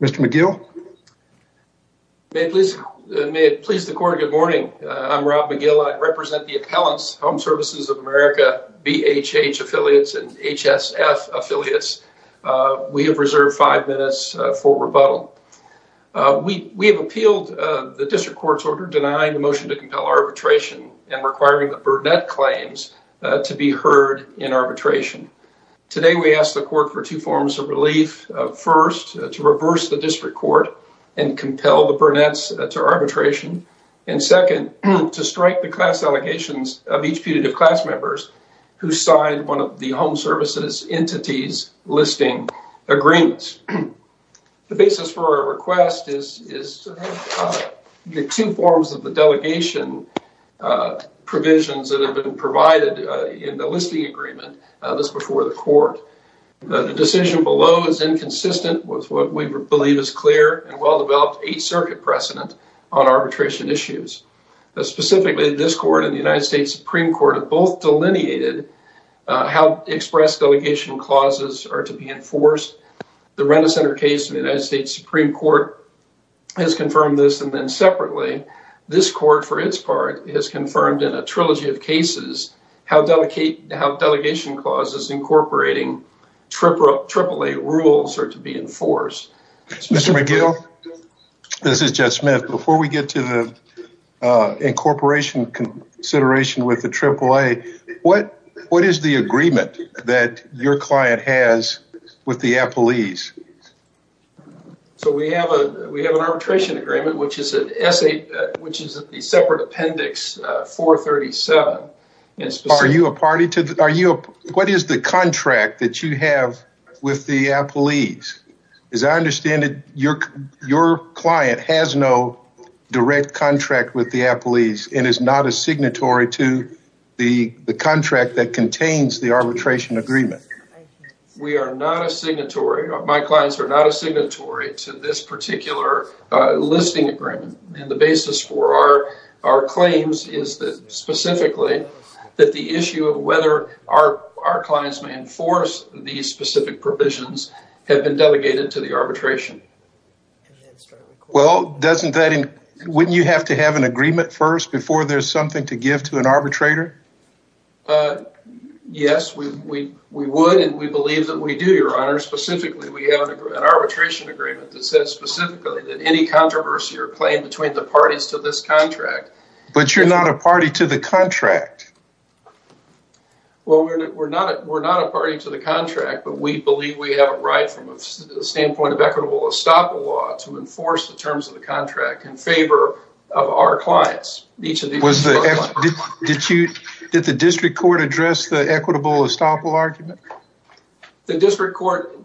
Mr. McGill. May it please the court, good morning. I'm Rob McGill. I represent the appellants, Home Services of America, BHH affiliates, and HSF affiliates. We have reserved five minutes for rebuttal. We have appealed the district court's order denying the motion to compel arbitration and requiring the Burnett claims to be heard in arbitration. Today we ask the court for two forms of relief. First, to reverse the district court and compel the Burnetts to arbitration. And second, to strike the class allegations of each putative class member who signed one of the Home Services entity's listing agreements. The basis for our request is to have the two forms of the delegation and provisions that have been provided in the listing agreement, this before the court. The decision below is inconsistent with what we believe is clear and well-developed Eighth Circuit precedent on arbitration issues. Specifically, this court and the United States Supreme Court have both delineated how express delegation clauses are to be enforced. The Rent-A-Center case in the United States Supreme Court has confirmed this. And then has confirmed in a trilogy of cases how delegation clauses incorporating AAA rules are to be enforced. Mr. McGill, this is Jeff Smith. Before we get to the incorporation consideration with the AAA, what is the agreement that your client has with the appellees? So, we have an arbitration agreement, which is a separate appendix 437. What is the contract that you have with the appellees? As I understand it, your client has no direct contract with the appellees and is not a signatory to the contract that contains the arbitration agreement. We are not a signatory. My clients are not a signatory to this particular listing agreement. And the basis for our claims is that specifically that the issue of whether our clients may enforce these specific provisions have been delegated to the arbitration. Well, doesn't that, wouldn't you have to have an arbitrator? Yes, we would and we believe that we do, your honor. Specifically, we have an arbitration agreement that says specifically that any controversy or claim between the parties to this contract. But you're not a party to the contract. Well, we're not a party to the contract, but we believe we have a right from the standpoint of equitable estoppel law to enforce the terms of our clients. Did the district court address the equitable estoppel argument? The district court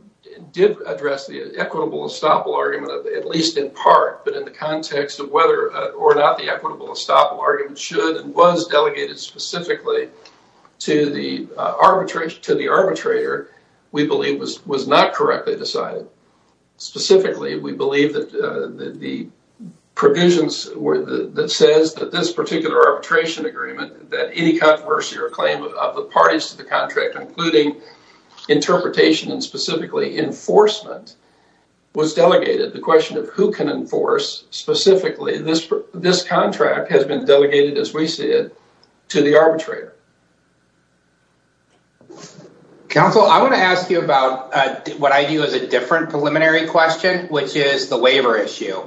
did address the equitable estoppel argument, at least in part, but in the context of whether or not the equitable estoppel argument should and was delegated specifically to the arbitrator, we believe was not correctly decided. Specifically, we believe that the provisions that says that this particular arbitration agreement, that any controversy or claim of the parties to the contract, including interpretation and specifically enforcement, was delegated. The question of who can enforce specifically this contract has been delegated, as we see it, to the arbitrator. Counsel, I want to ask you about what I do as a different preliminary question, which is the waiver issue.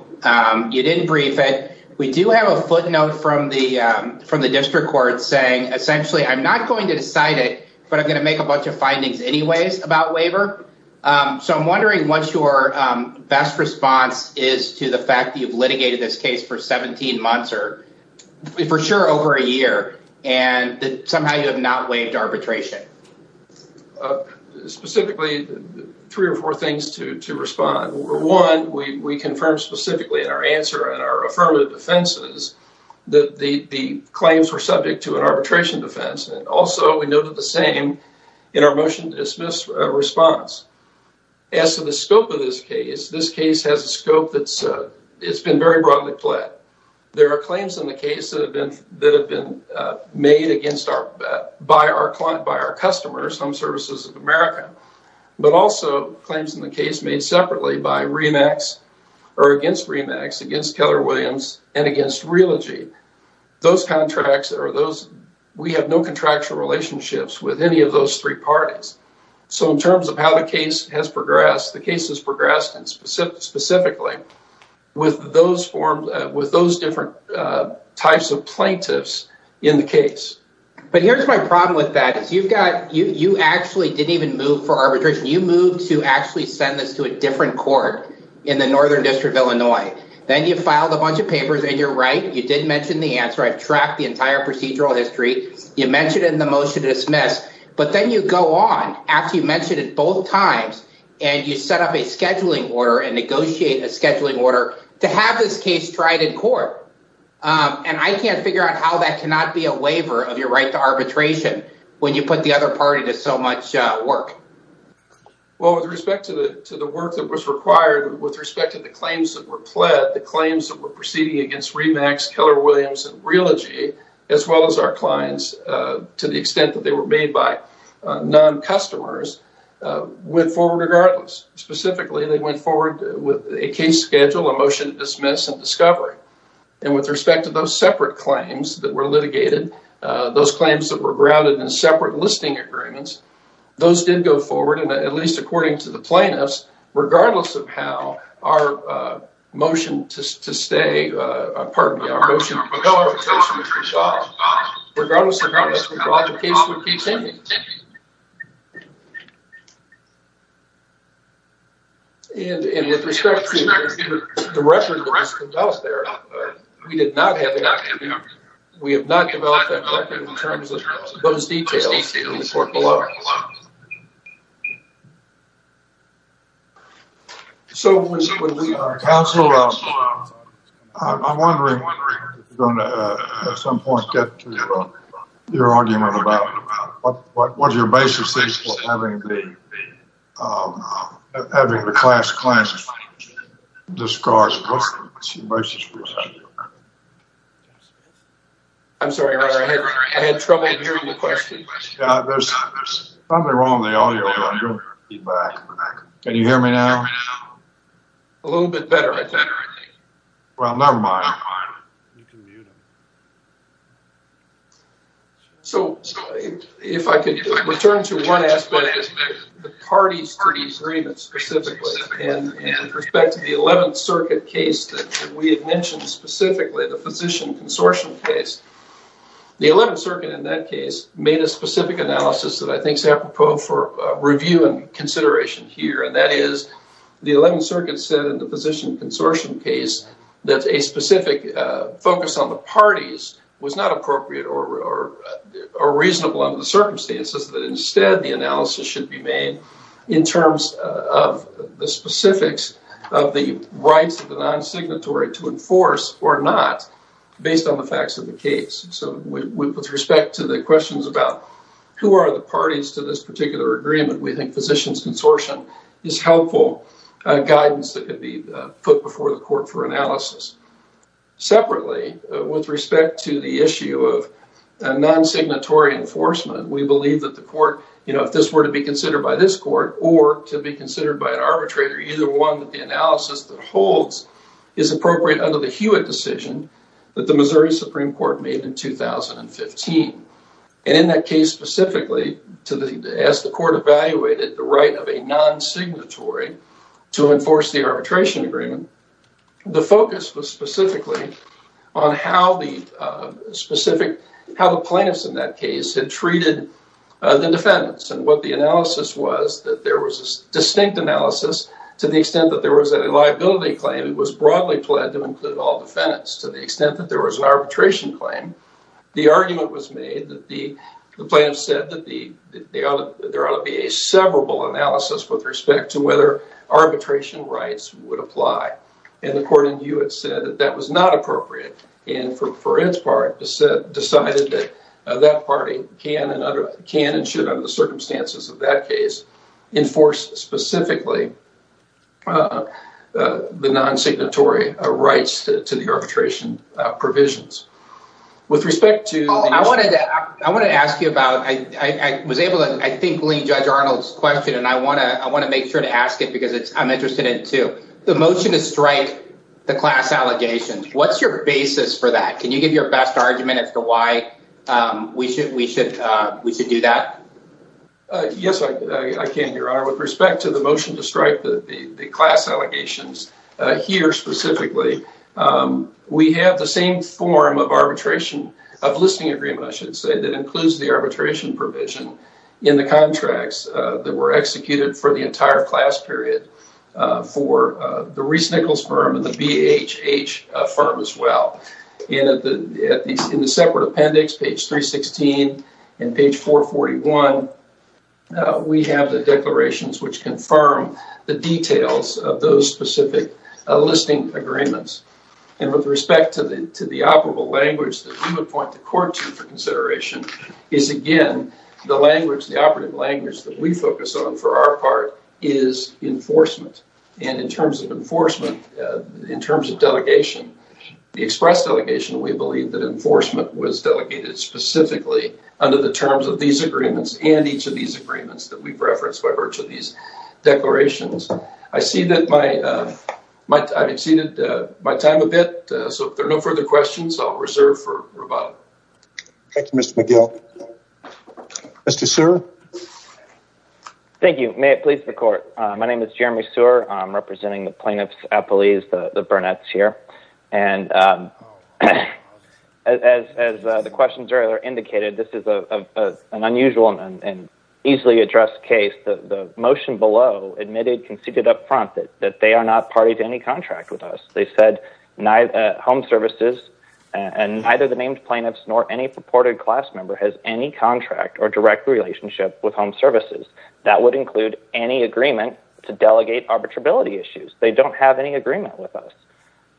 You didn't brief it. We do have a footnote from the district court saying, essentially, I'm not going to decide it, but I'm going to make a bunch of findings anyways about waiver. So I'm wondering what your best response is to the fact that you've litigated this case for 17 months, or for sure over a year, and somehow you have not waived arbitration. Specifically, three or four things to respond. One, we confirmed specifically in our answer, in our affirmative defenses, that the claims were subject to an arbitration defense, and also we noted the same in our motion to dismiss response. As to the scope of this case, this case has a scope that's been very broadly played. There are claims in the case that have been made by our client, by our customers, Home Services of America, but also claims in the case made separately by REMAX, or against REMAX, against Keller Williams, and against Realogy. Those contracts, we have no contractual relationships with any of those three parties. So in terms of how the case has progressed, the case has progressed specifically with those different types of plaintiffs in the case. But here's my problem with that. You actually didn't even move for arbitration. You moved to actually send this to a different court in the Northern District of Illinois. Then you filed a bunch of papers, and you're right, you did mention the answer. I've tracked the entire procedural history. You mentioned it in the motion to dismiss, but then you go on after you mentioned it both times, and you set up a scheduling order and negotiate a scheduling order to have this case tried in court. And I can't figure out how that cannot be a waiver of your right to arbitration when you put the other party to so much work. Well, with respect to the work that was required, with respect to the claims that were pled, the claims that were proceeding against REMAX, Keller Williams, and Realogy, as well as our clients, to the extent that they were made by non-customers, went forward regardless. Specifically, they went forward with a case schedule, a motion to dismiss, and discovery. And with respect to those separate claims that were litigated, those claims that were grounded in separate listing agreements, those did go forward, and at least according to the plaintiffs, regardless of how our motion to dismiss went forward. And with respect to the record that was conducted out there, we did not have that record. We have not developed that record in terms of those details in the court below us. So, counsel, I'm wondering if you're going to at some point get to your argument about what your basis is for having the class claims discarded. What's your basis for that? I'm sorry, Roger. I had trouble hearing the question. There's something wrong with the audio, Roger. Can you hear me now? A little bit better, I think. Well, never mind. You can mute him. So, if I could return to one aspect, the parties to the agreement specifically, and with respect to the 11th Circuit case that we had mentioned specifically, the physician consortium case. The 11th Circuit in that case made a specific analysis that I think is apropos for review and consideration here, and that is the 11th Circuit said in the physician consortium case that a specific focus on the parties was not appropriate or reasonable under the circumstances, that instead the analysis should be made in terms of the specifics of the rights of the non-signatory to enforce or not based on the facts of the case. So, with respect to the questions about who are the parties to this particular agreement, we think physician's consortium is helpful guidance that could be put before the court for analysis. Separately, with respect to the issue of non-signatory enforcement, we believe that the court, you know, if this were to be considered by this court or to be considered by an arbitrator, either one of the analysis that holds is appropriate under the Hewitt decision that the Missouri Supreme Court made in 2015. And in that case specifically, as the court evaluated the right of a non-signatory to enforce the arbitration agreement, the focus was specifically on how the plaintiffs in that case had treated the defendants. And what the analysis was that there was a distinct analysis to the extent that there was a liability claim, it was broadly pled to include all defendants. To the extent that there was an arbitration claim, the argument was with respect to whether arbitration rights would apply. And the court in Hewitt said that was not appropriate and for its part decided that that party can and should under the circumstances of that case enforce specifically the non-signatory rights to the arbitration provisions. With respect to the motion to strike the class allegations, what's your basis for that? Can you give your best argument as to why we should do that? Yes, I can, Your Honor. With respect to the motion to strike the class allegations here specifically, we have the same form of listing agreement, I should say, that includes the arbitration provision in the contracts that were executed for the entire class period for the Reese-Nichols firm and the BHH firm as well. In the separate appendix, page 316 and page 441, we have the declarations which confirm the details of those specific listing agreements. And with respect to the operable language that we would point the court to for consideration is, again, the language, the operative language, that we focus on for our part is enforcement. And in terms of enforcement, in terms of delegation, the express delegation, we believe that enforcement was delegated specifically under the terms of these agreements and each of these agreements that we've referenced by virtue of these declarations. I've exceeded my time a bit, so if there are no further questions, I'll reserve for rebuttal. Thank you, Mr. McGill. Mr. Sear? Thank you. May it please the court. My name is Jeremy Sear. I'm representing the plaintiff's appellees, the Burnetts here. And as the questions earlier indicated, this is an unusual and easily addressed case. The motion below admitted, conceded up front, that they are not party to any contract with us. They said home services and neither the named plaintiffs nor any purported class member has any contract or direct relationship with home services. That would include any agreement to delegate arbitrability issues. They don't have any agreement with us.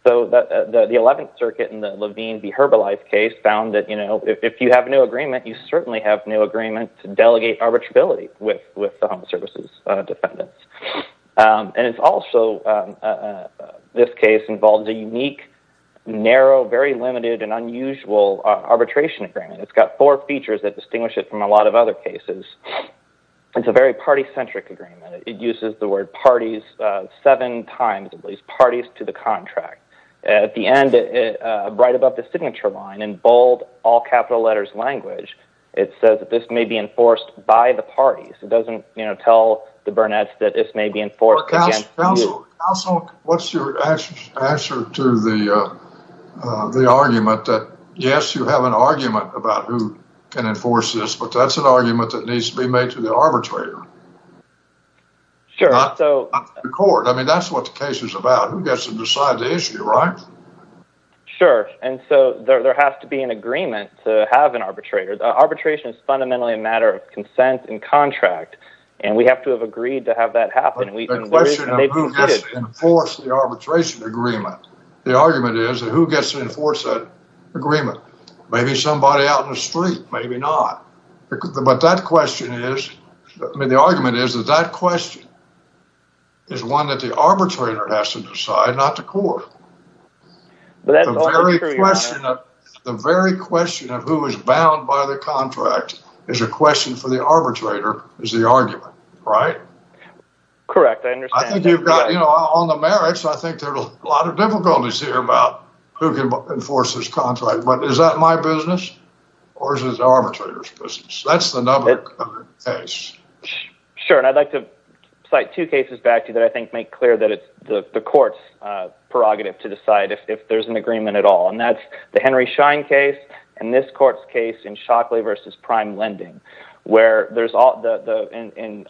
So the 11th Circuit in the Levine v. Herbalife case found that, you know, if you have no agreement, you certainly have no agreement to delegate arbitrability with the home services defendants. And it's also, in this case, involves a unique, narrow, very limited and unusual arbitration agreement. It's got four features that distinguish it from a lot of other cases. It's a very party-centric agreement. It uses the word parties seven times, at least, parties to the contract. At the end, right above the signature line, in bold, all capital letters language, it says that this may be enforced by the parties. It doesn't, you know, tell the Burnetts that this may be enforced. Counsel, what's your answer to the argument that, yes, you have an argument about who can enforce this, but that's an argument that needs to be made to the arbitrator? Sure. I mean, that's what the case is about. Who gets to decide the issue, right? Sure. And so there has to be an agreement to have an arbitrator. Arbitration is fundamentally a question of who gets to enforce the arbitration agreement. The argument is that who gets to enforce that agreement? Maybe somebody out in the street, maybe not. But that question is, I mean, the argument is that that question is one that the arbitrator has to decide, not the court. The very question of who is bound by the contract is a question for the arbitrator, is the argument, right? Correct. I understand. I think you've got, you know, on the merits, I think there's a lot of difficulties here about who can enforce this contract. But is that my business or is it the arbitrator's business? That's the number one case. Sure. And I'd like to cite two cases back to you that I think make clear that it's the court's prerogative to decide if there's an agreement at all. And that's the Henry Schein case and this court's case in Shockley versus Prime Lending, where there's all the, in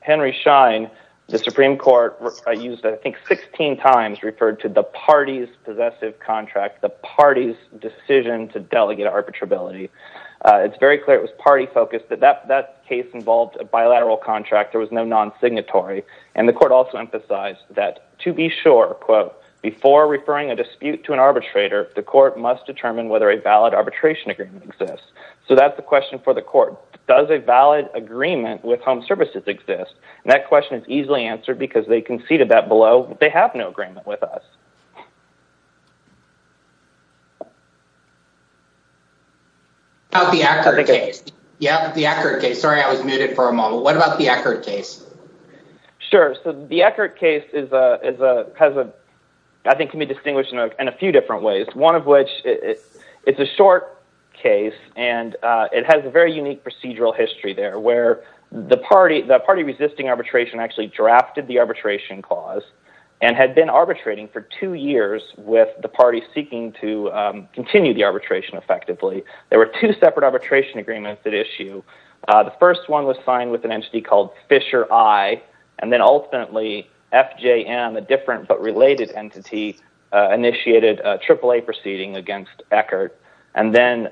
Henry Schein, the Supreme Court used I think 16 times referred to the party's possessive contract, the party's decision to delegate arbitrability. It's very clear it was party focused, but that case involved a bilateral contract. There was no non-signatory. And the court also emphasized that to be sure, quote, before referring a dispute to an arbitrator, the court must determine whether a valid arbitration agreement exists. So that's the question for the court. Does a valid agreement with home services exist? And that question is easily answered because they conceded that below. They have no agreement with us. How about the Eckert case? Yeah, the Eckert case. Sorry, I was muted for a moment. What about the Eckert case? Sure. So the Eckert case has a, I think can be distinguished in a few different ways. One of which, it's a short case and it has a very unique procedural history there where the party, the party resisting arbitration actually drafted the arbitration clause and had been arbitrating for two years with the party seeking to continue the arbitration effectively. There were two separate arbitration agreements at issue. The first one was signed with an entity called Fisher I, and then ultimately FJM, a different but related entity, initiated a AAA proceeding against Eckert. And then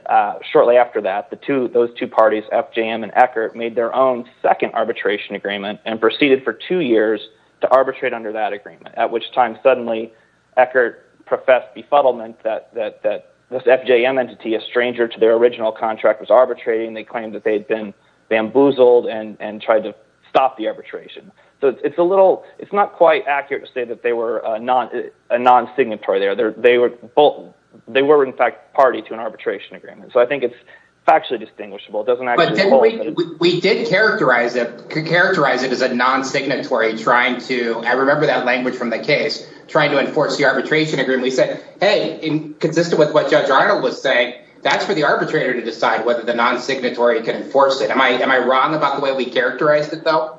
shortly after that, those two parties, FJM and Eckert, made their own second arbitration agreement and proceeded for two years to arbitrate under that agreement, at which time suddenly Eckert professed befuddlement that this FJM entity, a stranger to their original contract, was arbitrating. They claimed that they'd been bamboozled and tried to stop the arbitration. So it's a little, it's not quite accurate to say that they were a non-signatory there. They were both, they were in fact party to an arbitration agreement. So I think it's factually distinguishable. It doesn't actually hold. But didn't we, we did characterize it, characterize it as a non-signatory trying to, I remember that language from the case, trying to enforce the arbitration agreement. We said, hey, consistent with what Judge Arnold was saying, that's for the arbitrator to decide whether the non-signatory can enforce it. Am I, am I wrong about the way we characterized it though?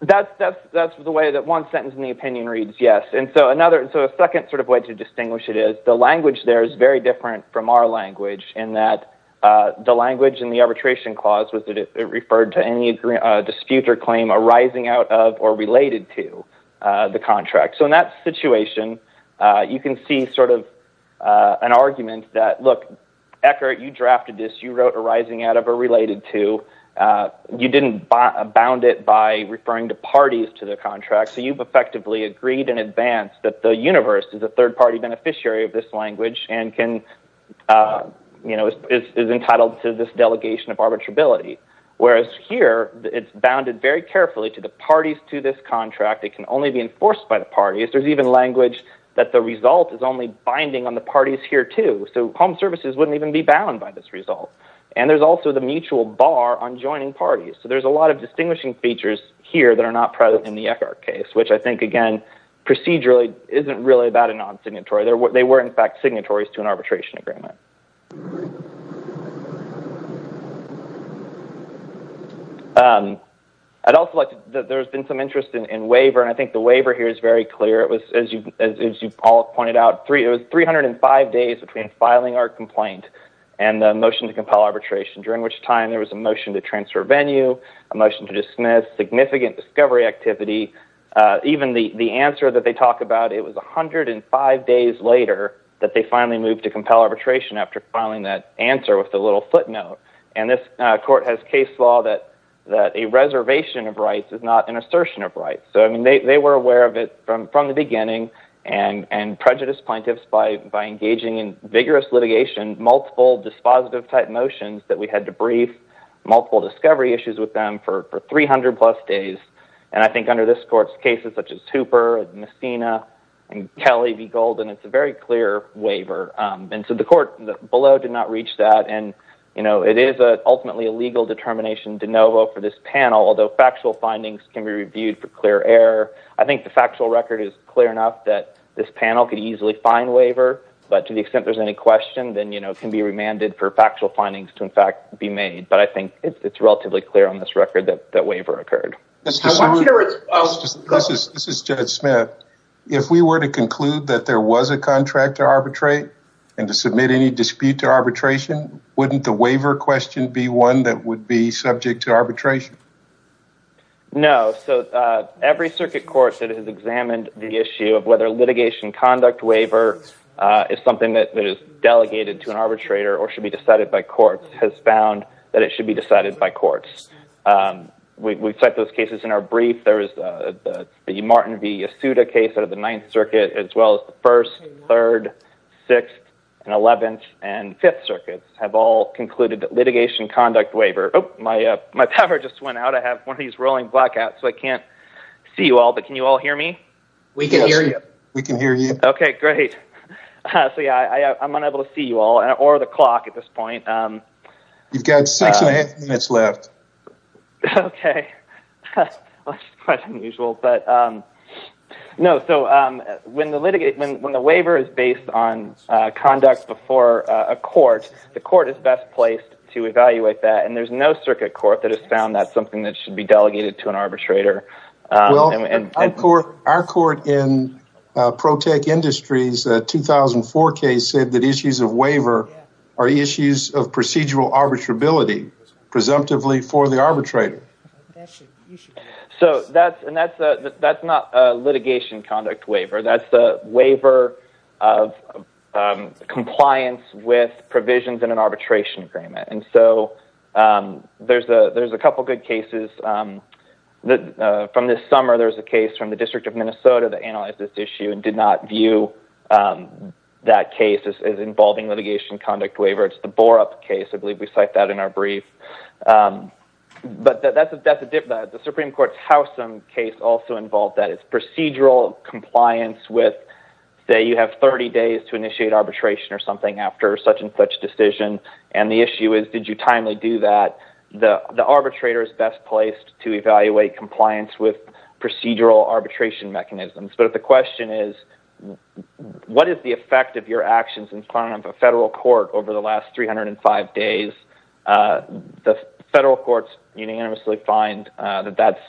That's, that's the way that one sentence in the opinion reads, yes. And so another, so a second sort of way to distinguish it is the language there is very different from our language in that the language in the arbitration clause was that it referred to any dispute or claim arising out of or related to the contract. So in that situation, you can see sort of an argument that, look, Eckert, you drafted this, you wrote arising out of or related to, you didn't bound it by referring to parties to the contract. So you've effectively agreed in advance that the universe is a third-party beneficiary of this language and can, you know, is entitled to this delegation of arbitrability. Whereas here, it's bounded very carefully to the parties to this contract. It can only be enforced by the parties. There's even language that the result is only binding on the parties here too. So home services wouldn't even be bound by this result. And there's also the mutual bar on joining parties. So there's a lot of distinguishing features here that are not present in the Eckert case, which I think, again, procedurally isn't really about a non-signatory. They were, in fact, signatories to an arbitration agreement. I'd also like to, there's been some interest in waiver, and I think the waiver here is very clear. It was, as you, as you all pointed out, it was 305 days between filing our complaint and the motion to compel arbitration, during which time there was a motion to transfer venue, a motion to dismiss, significant discovery activity. Even the answer that they talk about, it was 105 days later that they finally moved to compel arbitration after filing that answer with the little footnote. And this court has case law that a reservation of rights is not an assertion of rights. So, I mean, they were aware of it from the beginning and prejudiced plaintiffs by engaging in vigorous litigation, multiple dispositive type motions that we had to brief, multiple discovery issues with them for 300 plus days. And I think under this court's cases, such as Hooper and Messina and Kelly v. Golden, it's a very clear waiver. And so the court below did not reach that. And, you know, it is ultimately a legal determination de novo for this panel, although factual findings can be reviewed for clear error. I think the factual record is clear enough that this panel could easily find waiver, but to the extent there's any question, then, you know, it can be remanded for factual findings to, in fact, be made. But I think it's relatively clear on this record that waiver occurred. This is Judge Smith. If we were to conclude that there was a contract to arbitrate and to submit any dispute to arbitration, wouldn't the waiver question be one that would be subject to arbitration? No. So every circuit court that has examined the issue of whether litigation conduct waiver is something that is delegated to an arbitrator or should be decided by courts has found that it should be decided by courts. We cite those cases in our brief. There is the Martin v. Asuda case out of the Ninth Circuit, as well as the First, Third, Sixth, and Eleventh and Fifth have all concluded litigation conduct waiver. Oh, my power just went out. I have one of these rolling blackouts, so I can't see you all, but can you all hear me? We can hear you. We can hear you. Okay, great. So, yeah, I'm unable to see you all or the clock at this point. You've got six and a half minutes left. Okay. That's quite unusual, but no. So, when the waiver is based on conduct before a court, the court is best placed to evaluate that, and there's no circuit court that has found that's something that should be delegated to an arbitrator. Well, our court in ProTech Industries 2004 case said that issues of waiver are issues of procedural arbitrability, presumptively for the arbitrator. That's an issue. So, that's not a litigation conduct waiver. That's a waiver of compliance with provisions in an arbitration agreement. And so, there's a couple good cases. From this summer, there was a case from the District of Minnesota that analyzed this issue and did not view that case as involving litigation conduct waiver. It's the Borup case. I believe we the Supreme Court's Howsam case also involved that. It's procedural compliance with, say, you have 30 days to initiate arbitration or something after such and such decision, and the issue is, did you timely do that? The arbitrator is best placed to evaluate compliance with procedural arbitration mechanisms. But the question is, what is the effect of your actions in front of a federal court over the last 305 days? The federal courts unanimously find that that's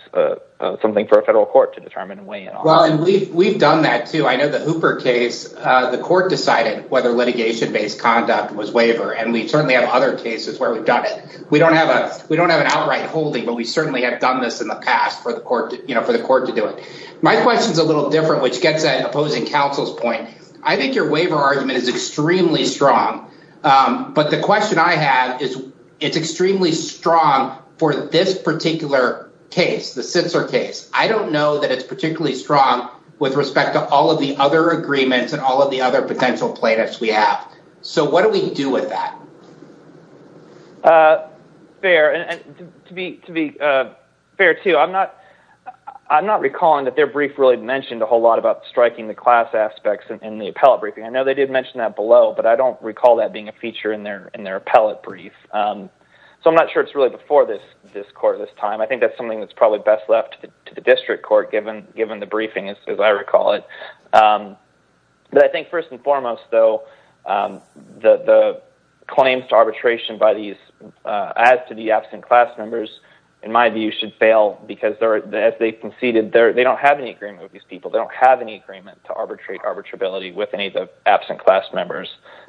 something for a federal court to determine and weigh in on. Well, and we've done that too. I know the Hooper case, the court decided whether litigation-based conduct was waiver, and we certainly have other cases where we've done it. We don't have an outright holding, but we certainly have done this in the past for the court to do it. My question's a little different. I don't know that it's particularly strong with respect to all of the other agreements and all of the other potential plaintiffs we have. So what do we do with that? Fair. And to be fair too, I'm not recalling that their brief really mentioned a whole lot about but I don't recall that being a feature in their appellate brief. So I'm not sure it's really before this court this time. I think that's something that's probably best left to the district court given the briefing, as I recall it. But I think first and foremost, though, the claims to arbitration by these, as to the absent class members, in my view, should fail because as they conceded, they don't have any agreement with these people. They don't have any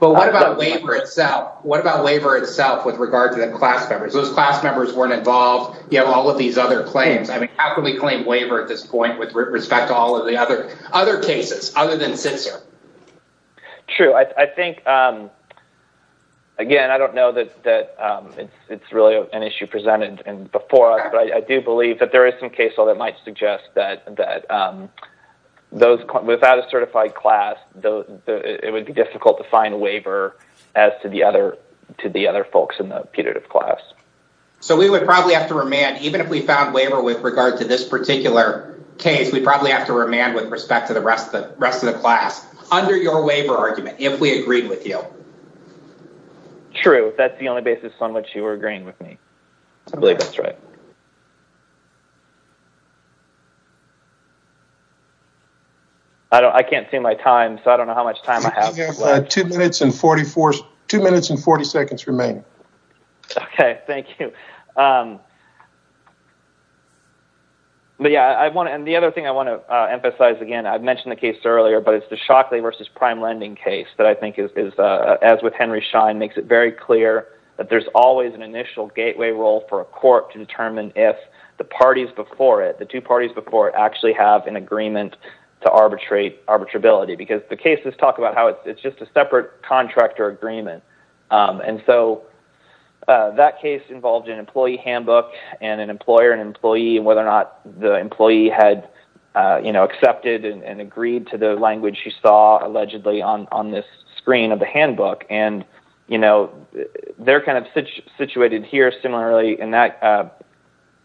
But what about waiver itself? What about waiver itself with regard to the class members? Those class members weren't involved. You have all of these other claims. I mean, how can we claim waiver at this point with respect to all of the other cases other than Sitzer? True. I think, again, I don't know that it's really an issue presented before us, but I do believe that there is some case law that might suggest that without a certified class, it would be difficult to find a waiver as to the other folks in the putative class. So we would probably have to remand, even if we found waiver with regard to this particular case, we'd probably have to remand with respect to the rest of the class under your waiver argument if we agreed with you. True. That's the only basis on which you were agreeing with me. I believe that's right. I can't see my time, so I don't know how much time I have. You have two minutes and 40 seconds remaining. Okay. Thank you. And the other thing I want to emphasize, again, I mentioned the case earlier, but it's the Shockley v. Prime Lending case that I think, as with Henry Schein, makes it very clear that there's always an initial gateway role for a court to determine if the parties before it, the two parties before it, actually have an agreement to arbitrability, because the cases talk about how it's just a separate contractor agreement. And so that case involved an employee handbook and an employer and employee and whether or not the employee had accepted and agreed to the language you saw, allegedly, on this screen of the handbook. And, you know, they're kind of situated here similarly in that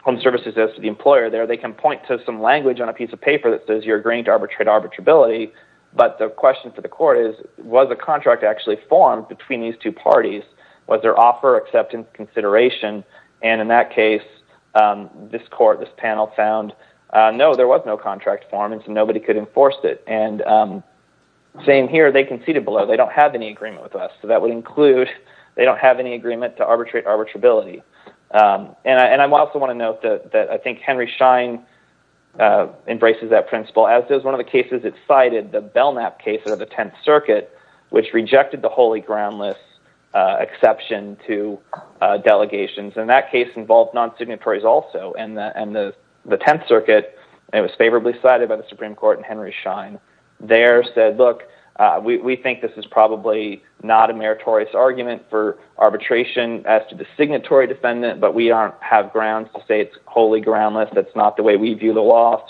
home services as to the employer there. They can point to some language on a piece of paper that says you're agreeing to arbitrate arbitrability, but the question for the court is, was a contract actually formed between these two parties? Was there offer acceptance consideration? And in that case, this court, this panel found, no, there was no contract formed, and so nobody could enforce it. And same here, they conceded below. They don't have any agreement with us, so that would include they don't have any agreement to arbitrate arbitrability. And I also want to note that I think Henry Schein embraces that principle, as does one of the cases it cited, the Belknap case of the Tenth Circuit, which rejected the holy groundless exception to delegations. And that case involved non-signatories also, and the Tenth Circuit, it was favorably cited by the Supreme Court, and Henry Schein there said, we think this is probably not a meritorious argument for arbitration as to the signatory defendant, but we have grounds to say it's wholly groundless. That's not the way we view the law.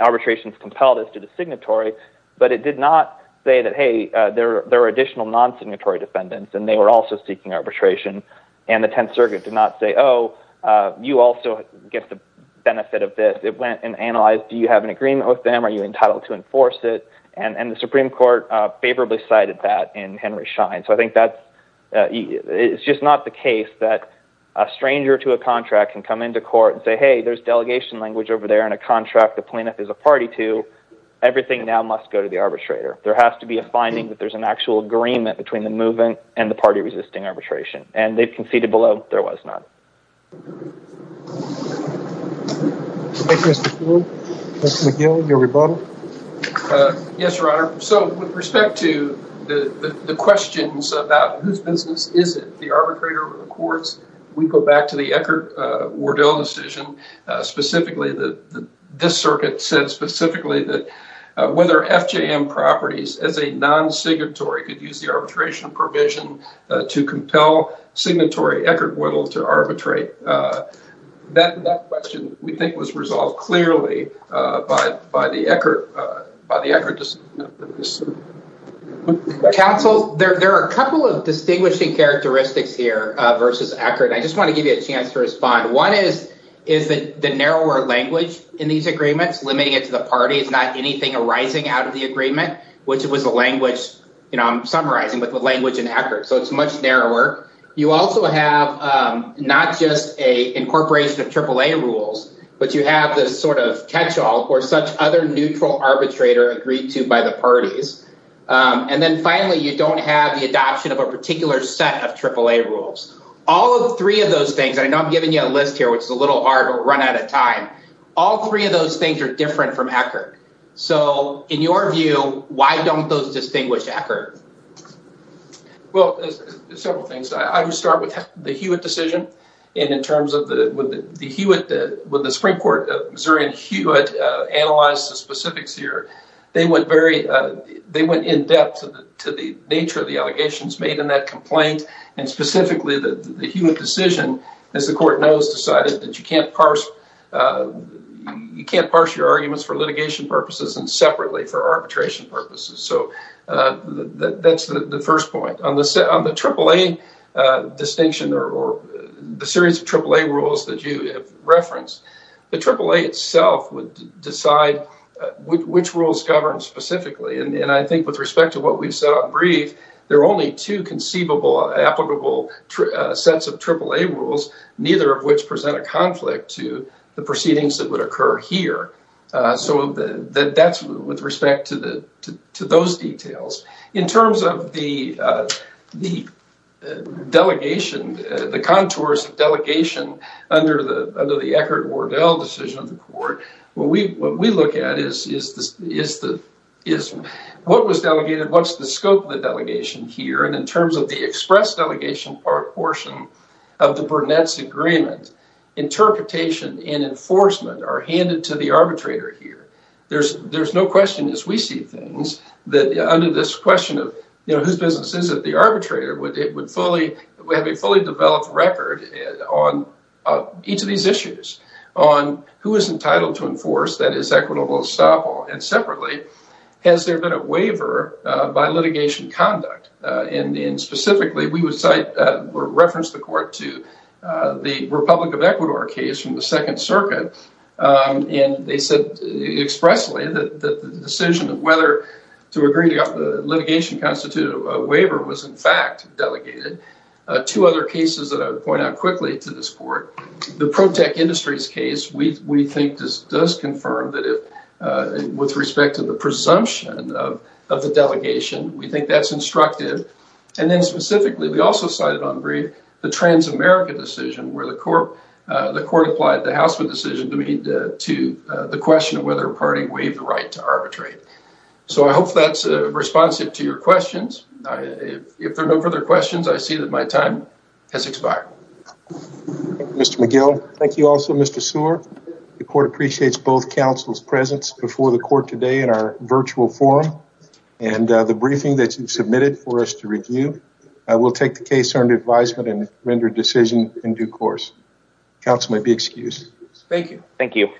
Arbitration is compelled as to the signatory, but it did not say that, hey, there are additional non-signatory defendants, and they were also seeking arbitration. And the Tenth Circuit did not say, oh, you also get the benefit of this. It went and analyzed, do you have an agreement with them? Are you entitled to enforce it? And the Supreme Court favorably cited that in Henry Schein. So I think that's, it's just not the case that a stranger to a contract can come into court and say, hey, there's delegation language over there in a contract the plaintiff is a party to. Everything now must go to the arbitrator. There has to be a finding that there's an actual agreement between the movement and the party resisting arbitration. And they've done that. Yes, Your Honor. So with respect to the questions about whose business is it, the arbitrator or the courts, we go back to the Eckert-Woodall decision, specifically, that this circuit said specifically that whether FJM properties as a non-signatory could use the arbitration provision to compel signatory Eckert-Woodall to arbitrate, that question we think was resolved clearly by the Eckert decision. Counsel, there are a couple of distinguishing characteristics here versus Eckert. I just want to give you a chance to respond. One is that the narrower language in these agreements, limiting it to the party, it's not anything arising out of the agreement, which it was a language, you know, I'm summarizing with the language in Eckert. So it's much narrower. You also have not just a incorporation of AAA rules, but you have this sort of catch-all for such other neutral arbitrator agreed to by the parties. And then finally, you don't have the adoption of a particular set of AAA rules. All of three of those things, I know I'm giving you a list here, which is a little hard or run out of time. All three of those things are different from Eckert. So in your view, why don't those distinguish Eckert? Well, several things. I would start with the Hewitt decision. And in terms of the Hewitt, when the Supreme Court of Missouri and Hewitt analyzed the specifics here, they went very, they went in-depth to the nature of the allegations made in that complaint. And specifically, the Hewitt decision, as the court knows, decided that you can't parse your arguments for litigation purposes and separately for arbitration purposes. So that's the first point. On the AAA distinction or the series of AAA rules that you have referenced, the AAA itself would decide which rules govern specifically. And I think with respect to what we've set up brief, there are only two conceivable applicable sets of AAA rules, neither of which present a conflict to the proceedings that would occur here. So that's with respect to those details. In terms of the delegation, the contours of delegation under the Eckert-Wardell decision of the court, what we look at is what was delegated, what's the scope of the delegation here. And in terms of the express delegation portion of the Burnett's agreement, interpretation and enforcement are handed to the arbitrator here. There's no question, as we see things, that under this question of, you know, whose business is it, the arbitrator would have a fully developed record on each of these issues, on who is entitled to enforce, that is equitable estoppel. And separately, has there been a waiver by litigation conduct? And specifically, we would reference the court to the Republic of Ecuador case from the Second Circuit. And they said expressly that the decision of whether to agree to the litigation constituted a waiver was in fact delegated. Two other cases that I would point out quickly to this court, the Protech Industries case, we think this does confirm that with respect to the presumption of the delegation, we think that's and then specifically, we also cited on brief, the Trans-America decision where the court applied the Housman decision to the question of whether a party waived the right to arbitrate. So I hope that's responsive to your questions. If there are no further questions, I see that my time has expired. Mr. McGill. Thank you also, Mr. Seward. The court appreciates both counsel's presence before the court today in our virtual forum, and the briefing that you've submitted for us to review. I will take the case under advisement and render decision in due course. Counsel may be excused. Thank you. Thank you.